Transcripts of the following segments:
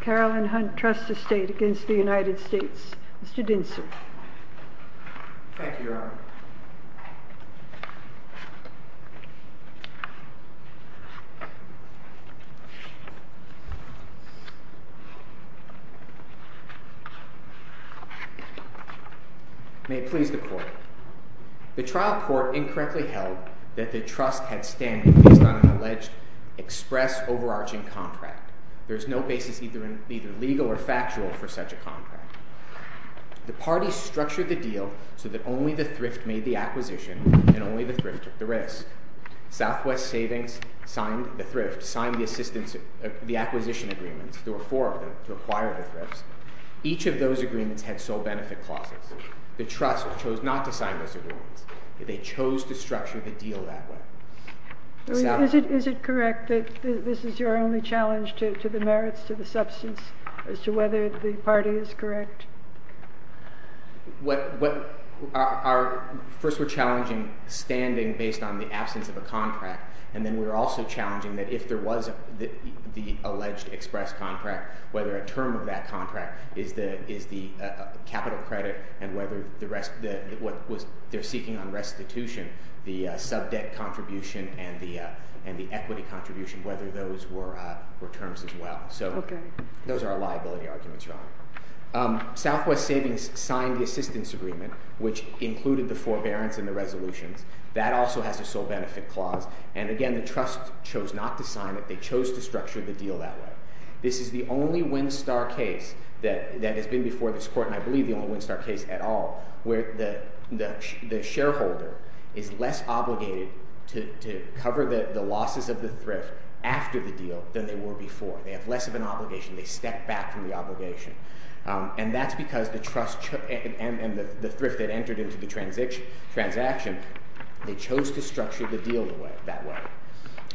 Caroline Hunt Trust Estate v. United States Caroline Hunt Trust Estate v. United States Caroline Hunt Trust Estate v. United States Caroline Hunt Trust Estate v. United States Caroline Hunt Trust Estate v. United States Mr. Dinson. Thank you, Your Honour. May it please the Court. The trial court incorrectly held that the Trust had stand-in based on an alleged express overarching contract. There is no basis either legal or factual for such a contract. The parties structured the deal so that only the thrift made the acquisition and only the thrift took the risk. Southwest Savings signed the thrift, signed the acquisition agreements. There were four of them to acquire the thrifts. Each of those agreements had sole benefit clauses. The Trust chose not to sign those agreements. They chose to structure the deal that way. Is it correct that this is your only challenge to the merits, to the substance, as to whether the party is correct? First, we're challenging standing based on the absence of a contract. And then we're also challenging that if there was the alleged express contract, whether a term of that contract is the capital credit and whether what they're seeking on restitution, the sub-debt contribution and the equity contribution, whether those were terms as well. So those are liability arguments, Your Honour. Southwest Savings signed the assistance agreement, which included the forbearance and the resolutions. That also has a sole benefit clause. And again, the Trust chose not to sign it. They chose to structure the deal that way. This is the only WinStar case that has been before this court, and I believe the only WinStar case at all, where the shareholder is less obligated to cover the losses of the thrift after the deal than they were before. They have less of an obligation. They step back from the obligation. And that's because the Trust and the thrift that entered into the transaction, they chose to structure the deal that way.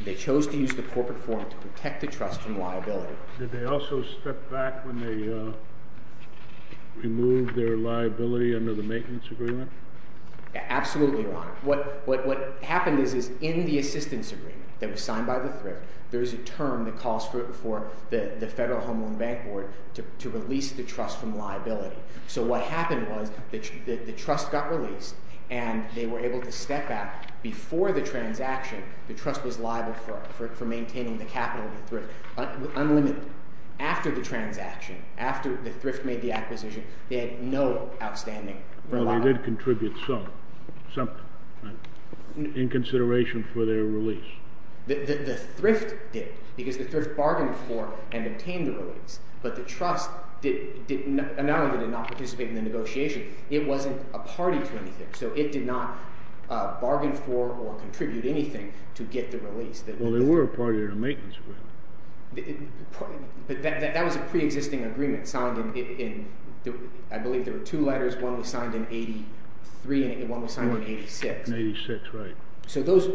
They chose to use the corporate form to protect the Trust from liability. Did they also step back when they removed their liability under the maintenance agreement? Absolutely, Your Honour. What happened is in the assistance agreement that was signed by the thrift, there's a term that calls for the Federal Home Owned Bank Board to release the Trust from liability. So what happened was the Trust got released, and they were able to step back. Before the transaction, the Trust was liable for maintaining the capital of the thrift unlimited. After the transaction, after the thrift made the acquisition, they had no outstanding liability. Well, they did contribute something in consideration for their release. The thrift did because the thrift bargained for and obtained the release, but the Trust did not participate in the negotiation. It wasn't a party to anything, so it did not bargain for or contribute anything to get the release. Well, they were a party to the maintenance agreement. But that was a preexisting agreement signed in – I believe there were two letters. One was signed in 83 and one was signed in 86. In 86, right. So those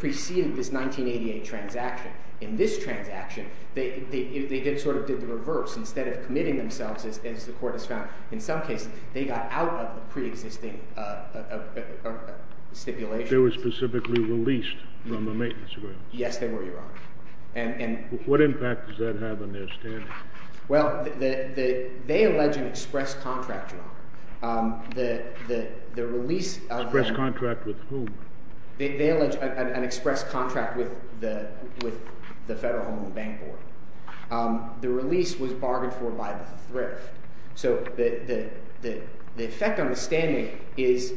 preceded this 1988 transaction. In this transaction, they sort of did the reverse. Instead of committing themselves, as the Court has found in some cases, they got out of the preexisting stipulation. They were specifically released from the maintenance agreement. Yes, they were, Your Honour. What impact does that have on their standing? Well, they allege an express contract, Your Honour. Express contract with whom? They allege an express contract with the Federal Home and Bank Board. The release was bargained for by the thrift. So the effect on the standing is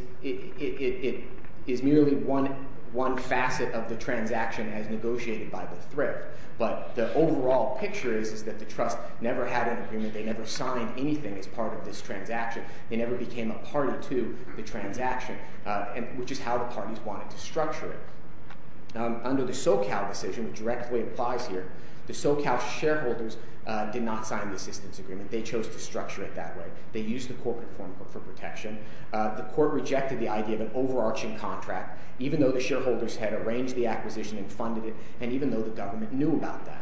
merely one facet of the transaction as negotiated by the thrift. But the overall picture is that the Trust never had an agreement. They never signed anything as part of this transaction. They never became a party to the transaction, which is how the parties wanted to structure it. Under the SoCal decision, which directly applies here, the SoCal shareholders did not sign the assistance agreement. They chose to structure it that way. They used the corporate form for protection. The Court rejected the idea of an overarching contract, even though the shareholders had arranged the acquisition and funded it, and even though the government knew about that.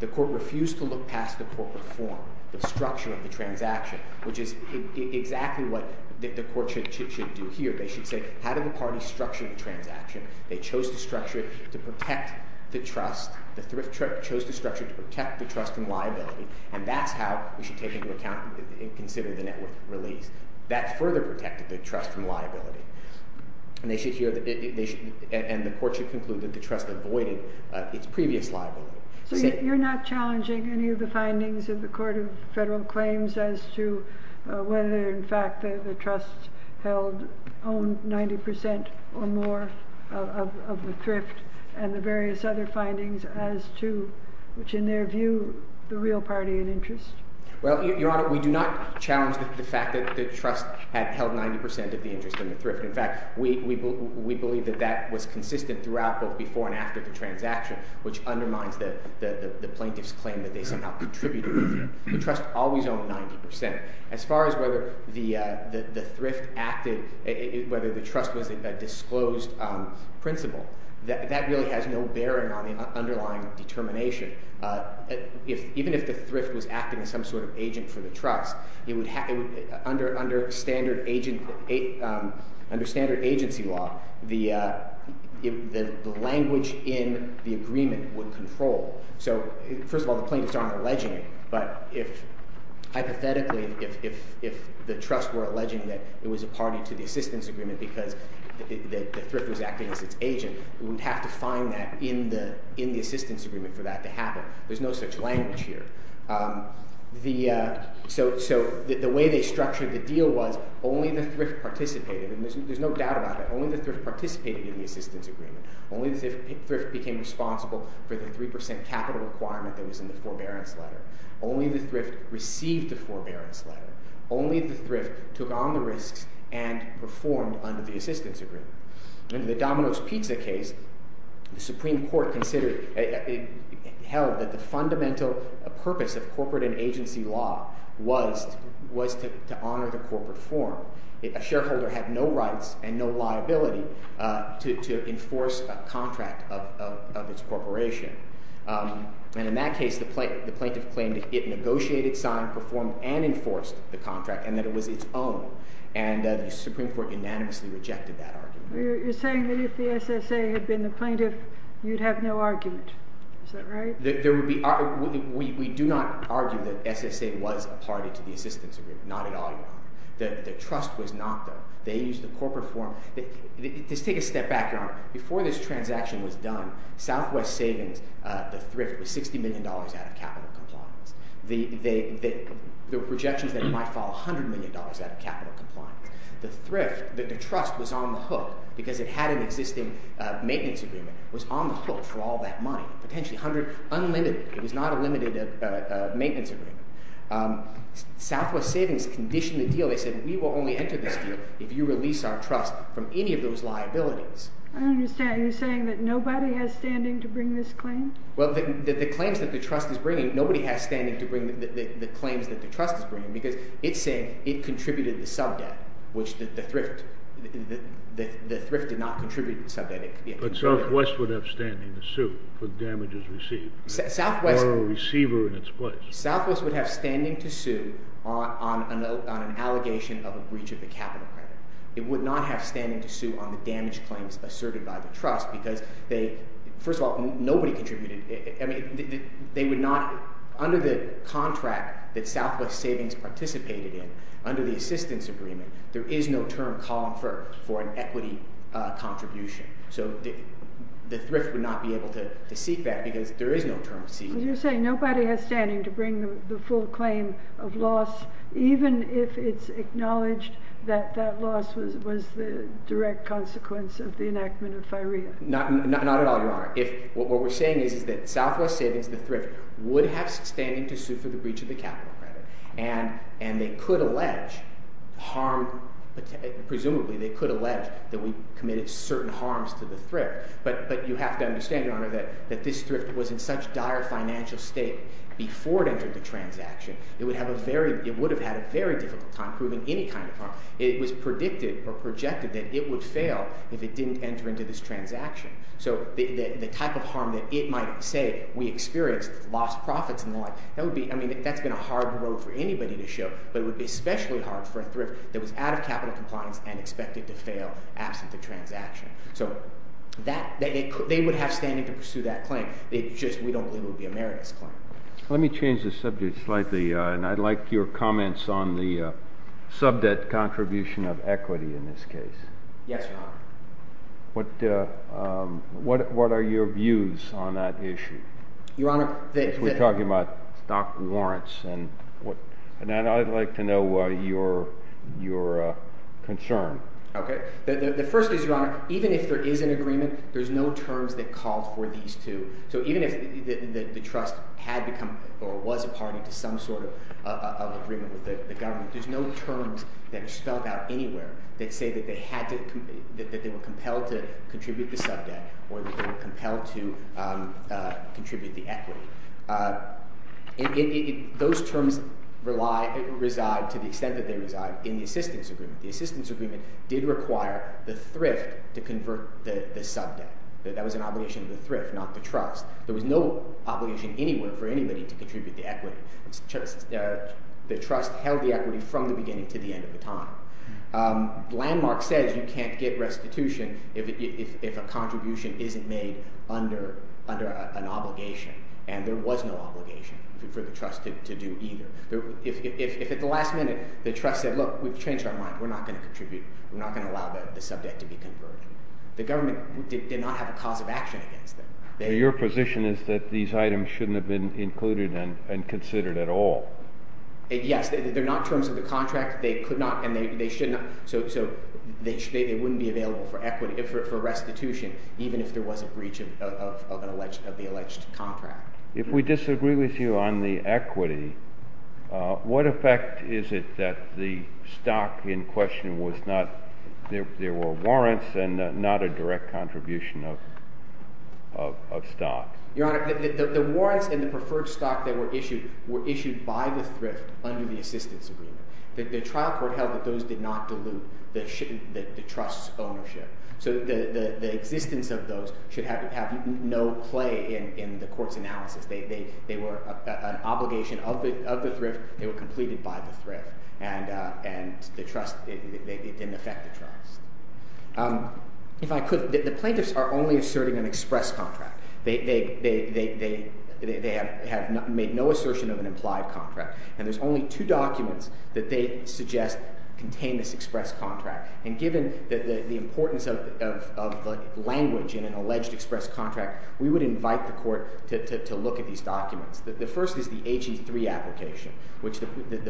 The Court refused to look past the corporate form, the structure of the transaction, which is exactly what the Court should do here. They should say, how did the parties structure the transaction? They chose to structure it to protect the Trust. The thrift chose to structure it to protect the Trust from liability, and that's how we should take into account and consider the net worth release. That further protected the Trust from liability. And the Court should conclude that the Trust avoided its previous liability. So you're not challenging any of the findings of the Court of Federal Claims as to whether, in fact, the Trust held 90% or more of the thrift and the various other findings as to, which in their view, the real party in interest? Well, Your Honor, we do not challenge the fact that the Trust had held 90% of the interest in the thrift. In fact, we believe that that was consistent throughout both before and after the transaction, which undermines the plaintiff's claim that they somehow contributed. The Trust always owned 90%. As far as whether the thrift acted – whether the Trust was a disclosed principal, that really has no bearing on the underlying determination. Even if the thrift was acting as some sort of agent for the Trust, under standard agency law, the language in the agreement would control. So first of all, the plaintiffs aren't alleging it, but if – hypothetically, if the Trust were alleging that it was a party to the assistance agreement because the thrift was acting as its agent, we would have to find that in the assistance agreement for that to happen. There's no such language here. So the way they structured the deal was only the thrift participated – and there's no doubt about it – only the thrift participated in the assistance agreement. Only the thrift became responsible for the 3% capital requirement that was in the forbearance letter. Only the thrift received the forbearance letter. Only the thrift took on the risks and performed under the assistance agreement. Under the Domino's Pizza case, the Supreme Court considered – held that the fundamental purpose of corporate and agency law was to honor the corporate form. A shareholder had no rights and no liability to enforce a contract of its corporation. And in that case, the plaintiff claimed it negotiated, signed, performed, and enforced the contract and that it was its own. And the Supreme Court unanimously rejected that argument. You're saying that if the SSA had been the plaintiff, you'd have no argument. Is that right? There would be – we do not argue that SSA was a party to the assistance agreement. Not at all, Your Honor. The Trust was not, though. They used the corporate form. Just take a step back, Your Honor. Before this transaction was done, Southwest Savings, the thrift, was $60 million out of capital compliance. There were projections that it might fall $100 million out of capital compliance. The thrift – the Trust was on the hook because it had an existing maintenance agreement. It was on the hook for all that money, potentially 100 – unlimited. It was not a limited maintenance agreement. Southwest Savings conditioned the deal. They said, we will only enter this deal if you release our trust from any of those liabilities. I don't understand. You're saying that nobody has standing to bring this claim? Well, the claims that the Trust is bringing – nobody has standing to bring the claims that the Trust is bringing because it said it contributed the sub-debt, which the thrift – the thrift did not contribute the sub-debt. But Southwest would have standing to sue for damages received. Southwest – Or a receiver in its place. Southwest would have standing to sue on an allegation of a breach of the capital claim. It would not have standing to sue on the damage claims asserted by the Trust because they – first of all, nobody contributed. I mean, they would not – under the contract that Southwest Savings participated in, under the assistance agreement, there is no term called for an equity contribution. So the thrift would not be able to seek that because there is no term to seek. You're saying nobody has standing to bring the full claim of loss even if it's acknowledged that that loss was the direct consequence of the enactment of FIREA. Not at all, Your Honor. If – what we're saying is that Southwest Savings, the thrift, would have standing to sue for the breach of the capital credit. And they could allege harm – presumably they could allege that we committed certain harms to the thrift. But you have to understand, Your Honor, that this thrift was in such dire financial state before it entered the transaction, it would have a very – it would have had a very difficult time proving any kind of harm. It was predicted or projected that it would fail if it didn't enter into this transaction. So the type of harm that it might say we experienced, lost profits and the like, that would be – I mean, that's been a hard road for anybody to show. But it would be especially hard for a thrift that was out of capital compliance and expected to fail absent the transaction. So that – they would have standing to pursue that claim. It's just we don't believe it would be a meritous claim. Let me change the subject slightly, and I'd like your comments on the sub-debt contribution of equity in this case. Yes, Your Honor. What are your views on that issue? Your Honor, the – We're talking about stock warrants and what – and I'd like to know your concern. Okay. The first is, Your Honor, even if there is an agreement, there's no terms that called for these two. So even if the trust had become or was a party to some sort of agreement with the government, there's no terms that are spelled out anywhere that say that they had to – that they were compelled to contribute the sub-debt or that they were compelled to contribute the equity. Those terms rely – reside to the extent that they reside in the assistance agreement. The assistance agreement did require the thrift to convert the sub-debt. That was an obligation of the thrift, not the trust. There was no obligation anywhere for anybody to contribute the equity. The trust held the equity from the beginning to the end of the time. Landmark says you can't get restitution if a contribution isn't made under an obligation, and there was no obligation for the trust to do either. If at the last minute the trust said, look, we've changed our mind. We're not going to contribute. We're not going to allow the sub-debt to be converted, the government did not have a cause of action against them. So your position is that these items shouldn't have been included and considered at all? Yes. They're not terms of the contract. They could not – and they shouldn't – so they wouldn't be available for restitution even if there was a breach of the alleged contract. If we disagree with you on the equity, what effect is it that the stock in question was not – there were warrants and not a direct contribution of stock? Your Honor, the warrants and the preferred stock that were issued were issued by the thrift under the assistance agreement. The trial court held that those did not dilute the trust's ownership. So the existence of those should have no play in the court's analysis. They were an obligation of the thrift. They were completed by the thrift, and the trust – it didn't affect the trust. If I could, the plaintiffs are only asserting an express contract. They have made no assertion of an implied contract, and there's only two documents that they suggest contain this express contract. And given the importance of the language in an alleged express contract, we would invite the court to look at these documents. The first is the HE3 application, which the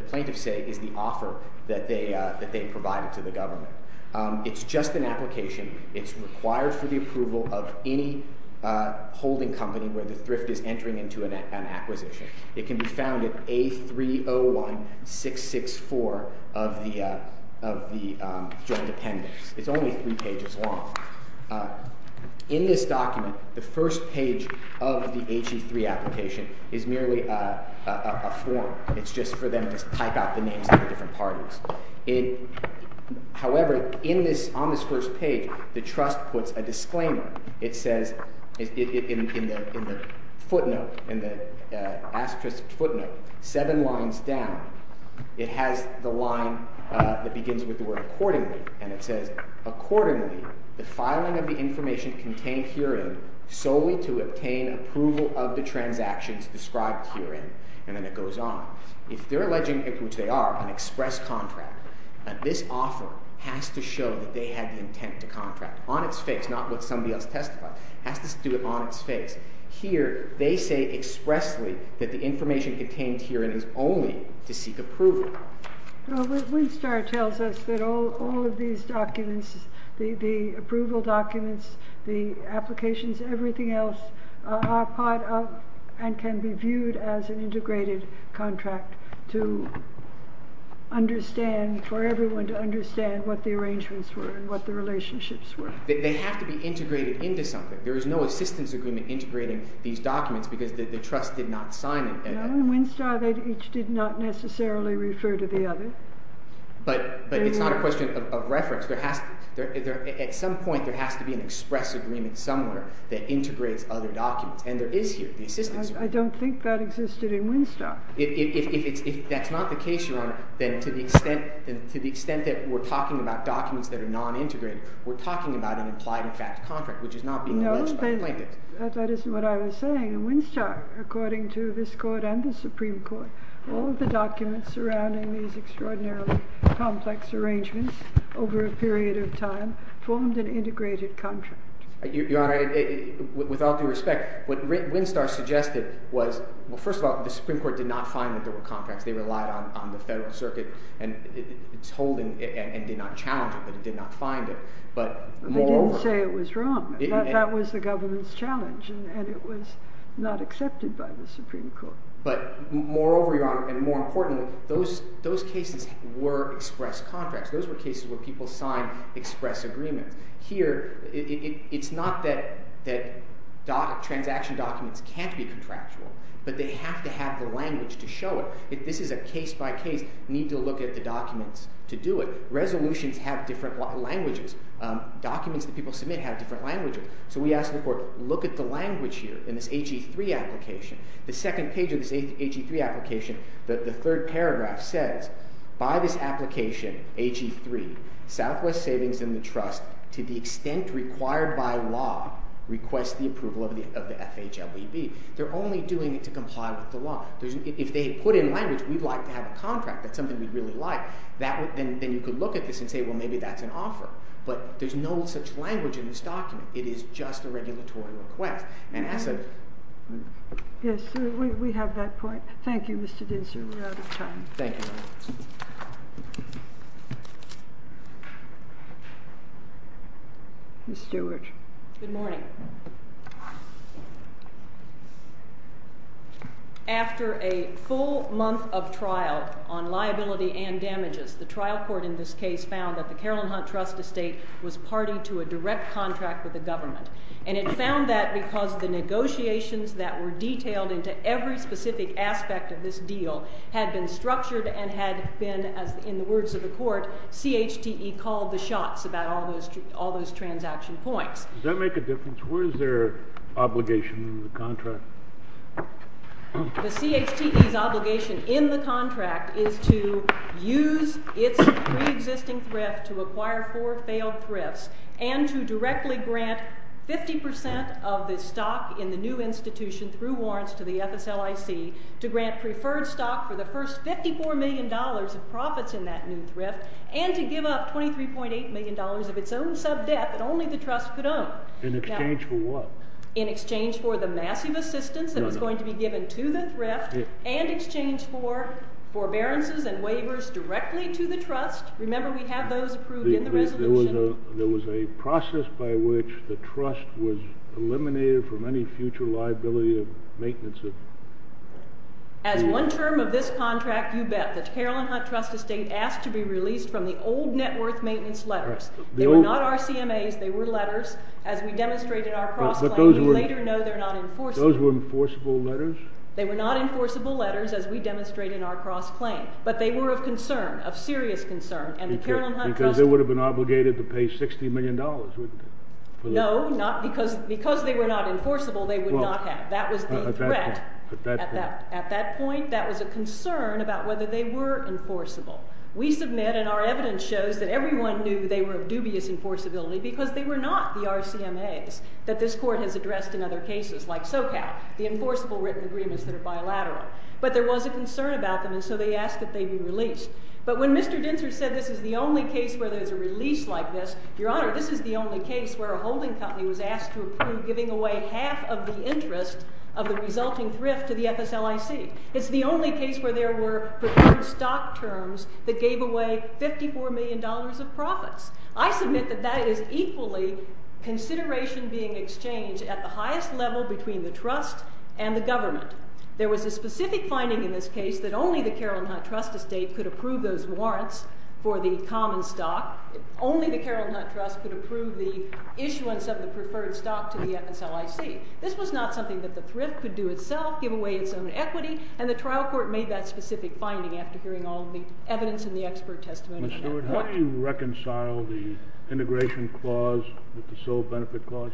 plaintiffs say is the offer that they provided to the government. It's just an application. It's required for the approval of any holding company where the thrift is entering into an acquisition. It can be found at A301-664 of the joint appendix. It's only three pages long. In this document, the first page of the HE3 application is merely a form. It's just for them to type out the names of the different parties. However, in this – on this first page, the trust puts a disclaimer. It says in the footnote, in the asterisk footnote, seven lines down. It has the line that begins with the word accordingly, and it says, Accordingly, the filing of the information contained herein solely to obtain approval of the transactions described herein. And then it goes on. If they're alleging – which they are – an express contract, this offer has to show that they had the intent to contract. On its face, not what somebody else testified. It has to do it on its face. Here, they say expressly that the information contained herein is only to seek approval. But Winstar tells us that all of these documents, the approval documents, the applications, everything else, are part of and can be viewed as an integrated contract to understand – for everyone to understand what the arrangements were and what the relationships were. They have to be integrated into something. There is no assistance agreement integrating these documents because the trust did not sign it. No. In Winstar, they each did not necessarily refer to the other. But it's not a question of reference. At some point, there has to be an express agreement somewhere that integrates other documents. And there is here, the assistance agreement. I don't think that existed in Winstar. If that's not the case, Your Honor, then to the extent that we're talking about documents that are non-integrated, we're talking about an implied and fact contract, which is not being alleged by the plaintiffs. No. That isn't what I was saying. In Winstar, according to this Court and the Supreme Court, all of the documents surrounding these extraordinarily complex arrangements over a period of time formed an integrated contract. Your Honor, with all due respect, what Winstar suggested was – well, first of all, the Supreme Court did not find that there were contracts. They relied on the Federal Circuit and its holding and did not challenge it, but it did not find it. But moreover – I didn't say it was wrong. That was the government's challenge, and it was not accepted by the Supreme Court. But moreover, Your Honor, and more importantly, those cases were express contracts. Those were cases where people signed express agreements. Here, it's not that transaction documents can't be contractual, but they have to have the language to show it. This is a case-by-case need to look at the documents to do it. Resolutions have different languages. Documents that people submit have different languages. So we asked the Court, look at the language here in this H.E. 3 application. The second page of this H.E. 3 application, the third paragraph says, by this application, H.E. 3, Southwest Savings and the Trust, to the extent required by law, requests the approval of the FHLEB. They're only doing it to comply with the law. If they had put in language, we'd like to have a contract. That's something we'd really like. Then you could look at this and say, well, maybe that's an offer. But there's no such language in this document. It is just a regulatory request. And as a— Yes, we have that point. Thank you, Mr. Dinser. We're out of time. Thank you. Ms. Stewart. Good morning. After a full month of trial on liability and damages, the trial court in this case found that the Caroline Hunt Trust Estate was party to a direct contract with the government. And it found that because the negotiations that were detailed into every specific aspect of this deal had been structured and had been, in the words of the Court, CHTE called the shots about all those transaction points. Does that make a difference? What is their obligation in the contract? The CHTE's obligation in the contract is to use its preexisting thrift to acquire four failed thrifts and to directly grant 50 percent of the stock in the new institution through warrants to the FSLIC, to grant preferred stock for the first $54 million of profits in that new thrift, and to give up $23.8 million of its own sub-debt that only the Trust could own. In exchange for what? In exchange for the massive assistance that was going to be given to the thrift and in exchange for forbearances and waivers directly to the Trust. Remember, we have those approved in the resolution. There was a process by which the Trust was eliminated from any future liability of maintenance of— As one term of this contract, you bet, the Carolyn Hunt Trust Estate asked to be released from the old net worth maintenance letters. They were not RCMAs. They were letters. As we demonstrated in our cross-claim, we later know they're not enforceable. Those were enforceable letters? They were not enforceable letters as we demonstrated in our cross-claim, but they were of concern, of serious concern. Because they would have been obligated to pay $60 million, wouldn't they? No, because they were not enforceable, they would not have. That was the threat. At that point? At that point, that was a concern about whether they were enforceable. We submit and our evidence shows that everyone knew they were of dubious enforceability because they were not the RCMAs that this Court has addressed in other cases, like SoCal, the enforceable written agreements that are bilateral. But there was a concern about them, and so they asked that they be released. But when Mr. Dintzer said this is the only case where there's a release like this, Your Honor, this is the only case where a holding company was asked to approve giving away half of the interest of the resulting thrift to the FSLIC. It's the only case where there were preferred stock terms that gave away $54 million of profits. I submit that that is equally consideration being exchanged at the highest level between the trust and the government. There was a specific finding in this case that only the Carroll Hunt Trust Estate could approve those warrants for the common stock. Only the Carroll Hunt Trust could approve the issuance of the preferred stock to the FSLIC. This was not something that the thrift could do itself, give away its own equity, and the trial court made that specific finding after hearing all of the evidence and the expert testimony. Ms. Stewart, how do you reconcile the integration clause with the sole benefit clause?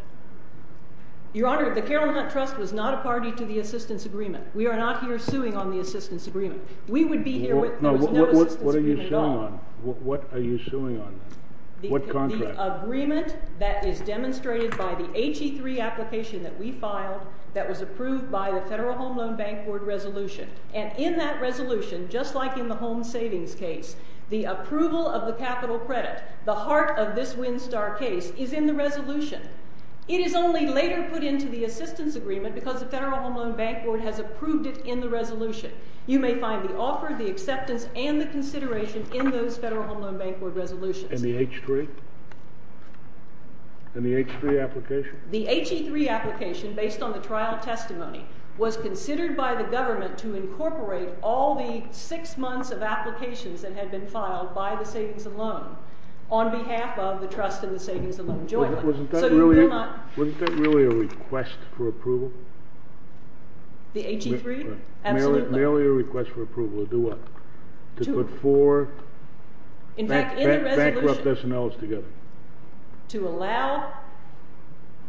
Your Honor, the Carroll Hunt Trust was not a party to the assistance agreement. We are not here suing on the assistance agreement. We would be here with— What are you suing on? What are you suing on? What contract? The agreement that is demonstrated by the HE3 application that we filed that was approved by the Federal Home Loan Bank Board resolution. And in that resolution, just like in the home savings case, the approval of the capital credit, the heart of this WinStar case, is in the resolution. It is only later put into the assistance agreement because the Federal Home Loan Bank Board has approved it in the resolution. You may find the offer, the acceptance, and the consideration in those Federal Home Loan Bank Board resolutions. And the H3? And the H3 application? The HE3 application, based on the trial testimony, was considered by the government to incorporate all the six months of applications that had been filed by the Savings and Loan on behalf of the Trust and the Savings and Loan Jointly. So you will not— Wasn't that really a request for approval? The HE3? Absolutely. Merely a request for approval to do what? To put four Bankrupt S&Ls together. To allow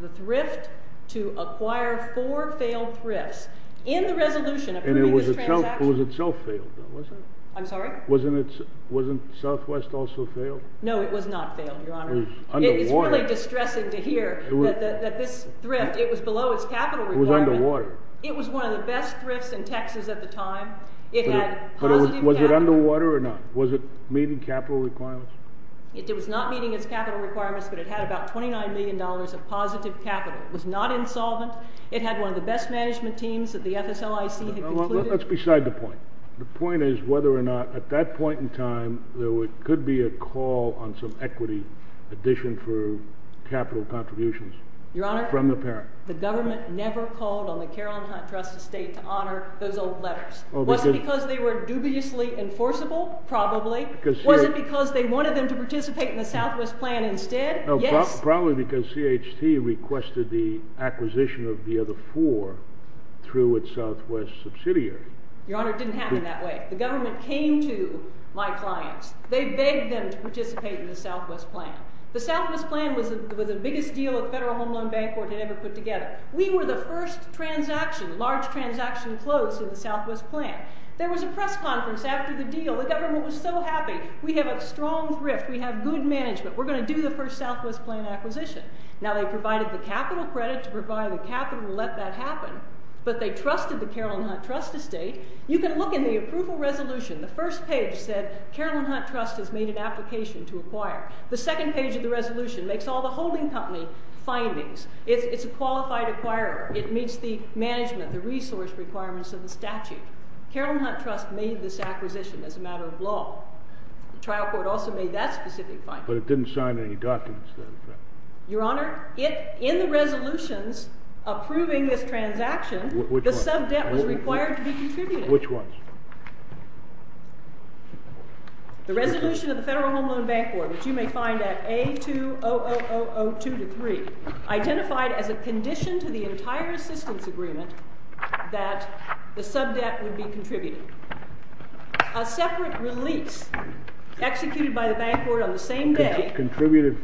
the thrift to acquire four failed thrifts. In the resolution approving this transaction— And it was itself failed, though, wasn't it? I'm sorry? Wasn't Southwest also failed? No, it was not failed, Your Honor. It was underwater. It is really distressing to hear that this thrift, it was below its capital requirement. It was underwater. It was one of the best thrifts in Texas at the time. It had positive capital— But was it underwater or not? Was it meeting capital requirements? It was not meeting its capital requirements, but it had about $29 million of positive capital. It was not insolvent. It had one of the best management teams that the FSLIC had concluded. Let's beside the point. The point is whether or not, at that point in time, there could be a call on some equity addition for capital contributions from the parent. Your Honor, the government never called on the Caroline Hunt Trust Estate to honor those old letters. Was it because they were dubiously enforceable? Probably. Was it because they wanted them to participate in the Southwest plan instead? Yes. Probably because CHT requested the acquisition of the other four through its Southwest subsidiary. Your Honor, it didn't happen that way. The government came to my clients. They begged them to participate in the Southwest plan. The Southwest plan was the biggest deal a federal home loan bank had ever put together. We were the first transaction, large transaction close in the Southwest plan. There was a press conference after the deal. The government was so happy. We have a strong thrift. We have good management. We're going to do the first Southwest plan acquisition. Now, they provided the capital credit to provide the capital and let that happen, but they trusted the Caroline Hunt Trust Estate. You can look in the approval resolution. The first page said Caroline Hunt Trust has made an application to acquire. The second page of the resolution makes all the holding company findings. It's a qualified acquirer. It meets the management, the resource requirements of the statute. Caroline Hunt Trust made this acquisition as a matter of law. The trial court also made that specific finding. But it didn't sign any documents, though. Your Honor, in the resolutions approving this transaction, the subdebt was required to be contributed. Which ones? The resolution of the Federal Home Loan Bank Board, which you may find at A2000002-3, identified as a condition to the entire assistance agreement that the subdebt would be contributed. A separate release executed by the bank board on the same day. Contributed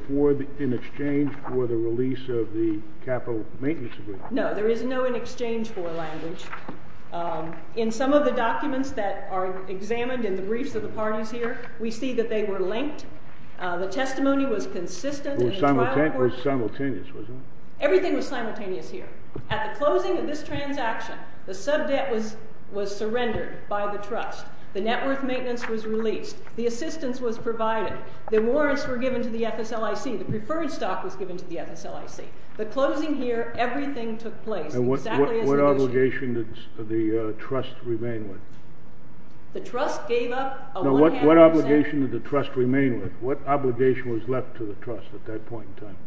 in exchange for the release of the capital maintenance agreement. No, there is no in exchange for language. In some of the documents that are examined in the briefs of the parties here, we see that they were linked. The testimony was consistent in the trial court. It was simultaneous, wasn't it? Everything was simultaneous here. At the closing of this transaction, the subdebt was surrendered by the trust. The net worth maintenance was released. The assistance was provided. The warrants were given to the FSLIC. The preferred stock was given to the FSLIC. The closing here, everything took place exactly as it was. And what obligation did the trust remain with? The trust gave up a one-handed stand. No, what obligation did the trust remain with? What obligation was left to the trust at that point in time?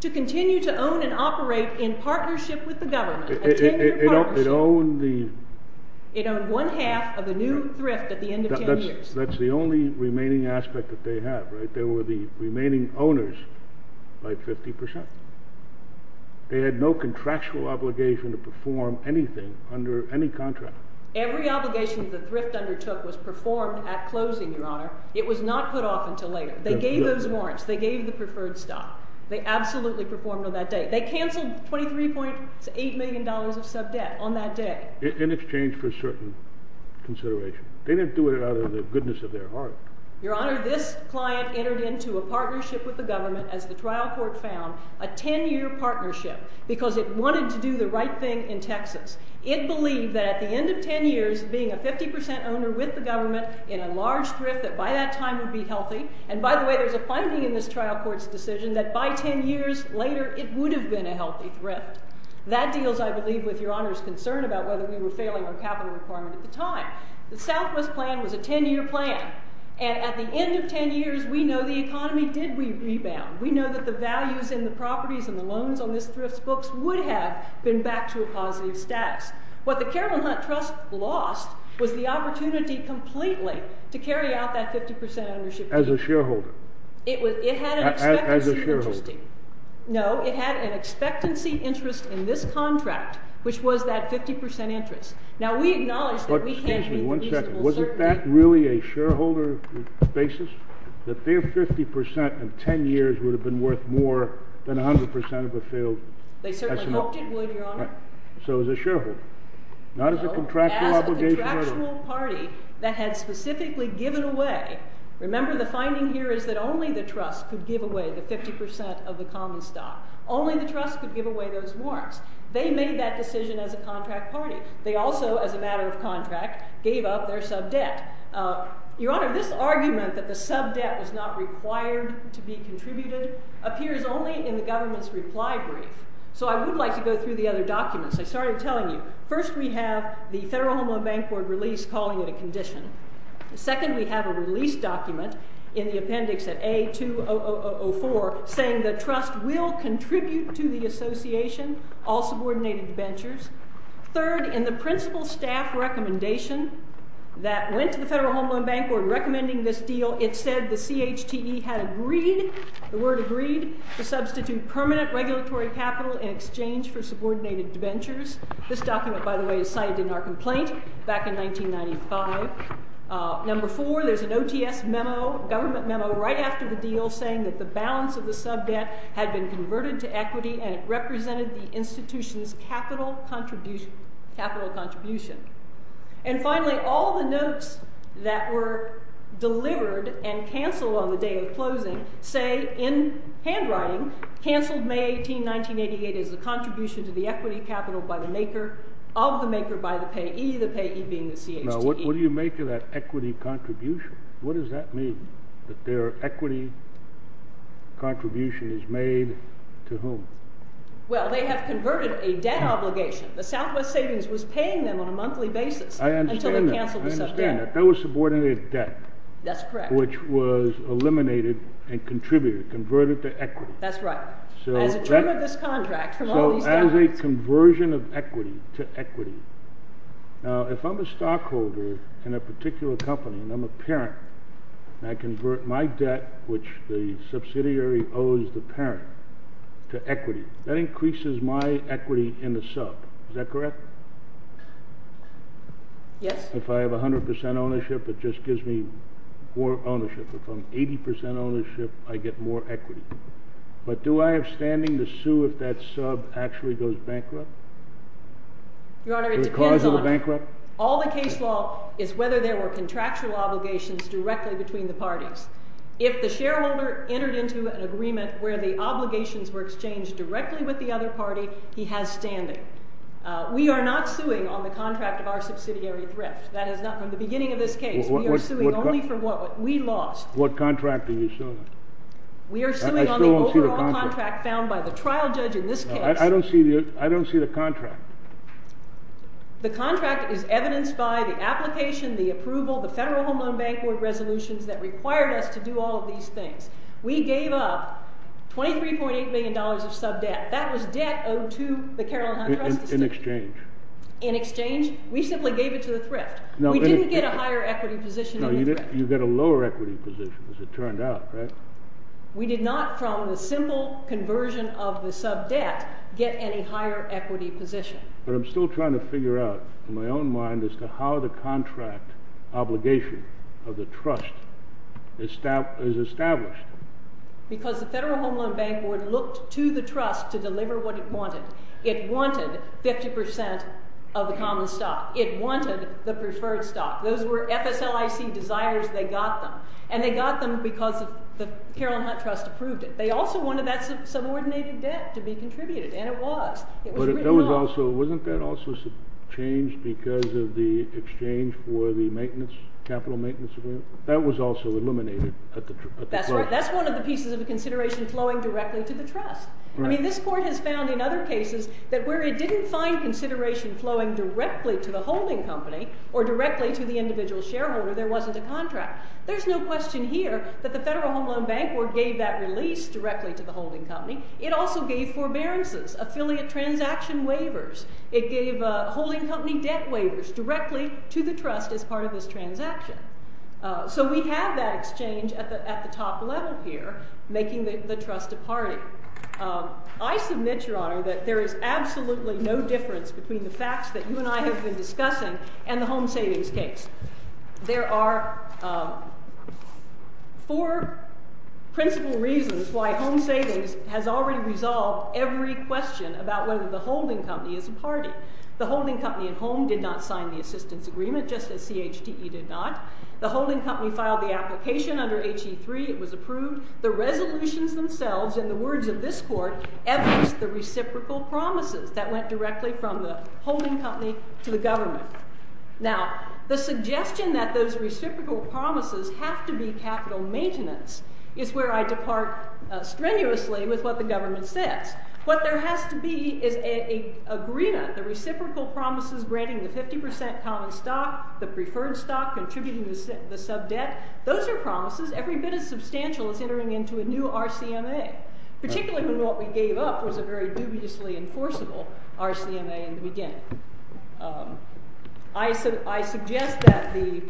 To continue to own and operate in partnership with the government. It owned the? It owned one-half of the new thrift at the end of 10 years. That's the only remaining aspect that they have, right? They were the remaining owners by 50%. They had no contractual obligation to perform anything under any contract. It was not put off until later. They gave those warrants. They gave the preferred stock. They absolutely performed on that day. They canceled $23.8 million of subdebt on that day. In exchange for certain consideration. They didn't do it out of the goodness of their heart. Your Honor, this client entered into a partnership with the government as the trial court found, a 10-year partnership because it wanted to do the right thing in Texas. It believed that at the end of 10 years, being a 50% owner with the government in a large thrift, that by that time would be healthy. And by the way, there's a finding in this trial court's decision that by 10 years later, it would have been a healthy thrift. That deals, I believe, with Your Honor's concern about whether we were failing our capital requirement at the time. The Southwest plan was a 10-year plan. And at the end of 10 years, we know the economy did rebound. We know that the values in the properties and the loans on this thrift books would have been back to a positive status. What the Carolyn Hunt Trust lost was the opportunity completely to carry out that 50% ownership. As a shareholder. It had an expectancy. As a shareholder. No, it had an expectancy interest in this contract, which was that 50% interest. Now, we acknowledge that we had a reasonable certainty. Is that really a shareholder basis? That their 50% in 10 years would have been worth more than 100% of what failed? They certainly hoped it would, Your Honor. So as a shareholder. Not as a contractual obligation. No, as a contractual party that had specifically given away. Remember, the finding here is that only the trust could give away the 50% of the common stock. Only the trust could give away those warrants. They made that decision as a contract party. They also, as a matter of contract, gave up their sub-debt. Your Honor, this argument that the sub-debt is not required to be contributed appears only in the government's reply brief. So I would like to go through the other documents. I started telling you. First, we have the Federal Home Loan Bank Board release calling it a condition. Second, we have a release document in the appendix at A2004 saying the trust will contribute to the association. All subordinated ventures. Third, in the principal staff recommendation that went to the Federal Home Loan Bank Board recommending this deal, it said the CHTE had agreed, the word agreed, to substitute permanent regulatory capital in exchange for subordinated ventures. This document, by the way, is cited in our complaint back in 1995. Number four, there's an OTS memo, government memo, right after the deal saying that the balance of the sub-debt had been converted to equity and represented the institution's capital contribution. And finally, all the notes that were delivered and canceled on the day of closing say, in handwriting, canceled May 18, 1988 as a contribution to the equity capital of the maker by the payee, the payee being the CHTE. Now, what do you make of that equity contribution? What does that mean, that their equity contribution is made to whom? Well, they have converted a debt obligation. The Southwest Savings was paying them on a monthly basis until they canceled the sub-debt. I understand that. I understand that. That was subordinate debt. That's correct. Which was eliminated and contributed, converted to equity. That's right. As a term of this contract, from all these documents. So as a conversion of equity to equity. Now, if I'm a stockholder in a particular company and I'm a parent and I convert my debt, which the subsidiary owes the parent, to equity, that increases my equity in the sub. Is that correct? Yes. If I have 100% ownership, it just gives me more ownership. If I'm 80% ownership, I get more equity. But do I have standing to sue if that sub actually goes bankrupt? Your Honor, it depends on. The cause of the bankrupt? All the case law is whether there were contractual obligations directly between the parties. If the shareholder entered into an agreement where the obligations were exchanged directly with the other party, he has standing. We are not suing on the contract of our subsidiary thrift. That is not from the beginning of this case. We are suing only for what we lost. What contract are you suing? We are suing on the overall contract found by the trial judge in this case. I don't see the contract. The contract is evidenced by the application, the approval, the Federal Home Loan Bank Resolutions that required us to do all of these things. We gave up $23.8 million of sub-debt. That was debt owed to the Carroll Hunt Trust. In exchange. In exchange? We simply gave it to the thrift. We didn't get a higher equity position in the thrift. You get a lower equity position, as it turned out, right? We did not, from the simple conversion of the sub-debt, get any higher equity position. But I'm still trying to figure out, in my own mind, as to how the contract obligation of the trust is established. Because the Federal Home Loan Bank Board looked to the trust to deliver what it wanted. It wanted 50% of the common stock. It wanted the preferred stock. Those were FSLIC desires. They got them. And they got them because the Carroll Hunt Trust approved it. They also wanted that subordinated debt to be contributed. And it was. It was written off. Wasn't that also changed because of the exchange for the maintenance, capital maintenance agreement? That was also eliminated. That's right. That's one of the pieces of the consideration flowing directly to the trust. I mean, this court has found in other cases that where it didn't find consideration flowing directly to the holding company or directly to the individual shareholder, there wasn't a contract. There's no question here that the Federal Home Loan Bank Board gave that release directly to the holding company. It also gave forbearances, affiliate transaction waivers. It gave holding company debt waivers directly to the trust as part of this transaction. So we have that exchange at the top level here, making the trust a party. I submit, Your Honor, that there is absolutely no difference between the facts that you and I have been discussing and the home savings case. There are four principal reasons why home savings has already resolved every question about whether the holding company is a party. The holding company at home did not sign the assistance agreement, just as CHTE did not. The holding company filed the application under HE3. It was approved. The resolutions themselves, in the words of this court, evidenced the reciprocal promises that went directly from the holding company to the government. Now, the suggestion that those reciprocal promises have to be capital maintenance is where I depart strenuously with what the government says. What there has to be is an agreement, the reciprocal promises granting the 50% common stock, the preferred stock, contributing the subdebt. Those are promises. Every bit as substantial as entering into a new RCMA, particularly when what we gave up was a very dubiously enforceable RCMA in the beginning. I suggest that the—I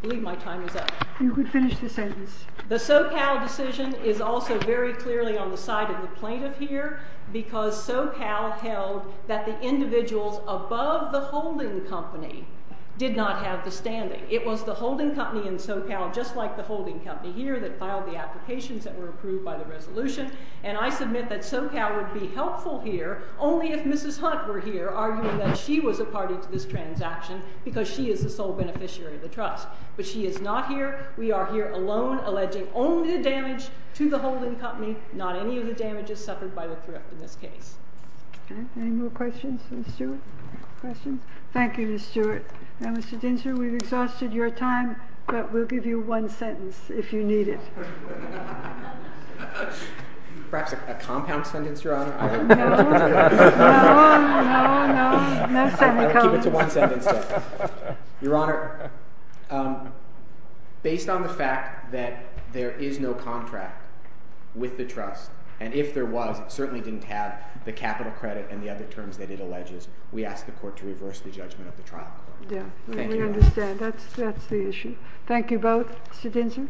believe my time is up. You could finish the sentence. The SoCal decision is also very clearly on the side of the plaintiff here because SoCal held that the individuals above the holding company did not have the standing. It was the holding company in SoCal, just like the holding company here, that filed the applications that were approved by the resolution. And I submit that SoCal would be helpful here only if Mrs. Hunt were here, arguing that she was a party to this transaction because she is the sole beneficiary of the trust. But she is not here. We are here alone, alleging only the damage to the holding company, not any of the damages suffered by the thrift in this case. Okay. Any more questions for Ms. Stewart? Questions? Thank you, Ms. Stewart. Now, Mr. Dinsher, we've exhausted your time, but we'll give you one sentence if you need it. Perhaps a compound sentence, Your Honor? No. No, no, no. I'll keep it to one sentence. Your Honor, based on the fact that there is no contract with the trust, and if there was, it certainly didn't have the capital credit and the other terms that it alleges, we ask the Court to reverse the judgment of the trial. Yeah. We understand. That's the issue. Thank you both. Mr. Dinsher? Thank you.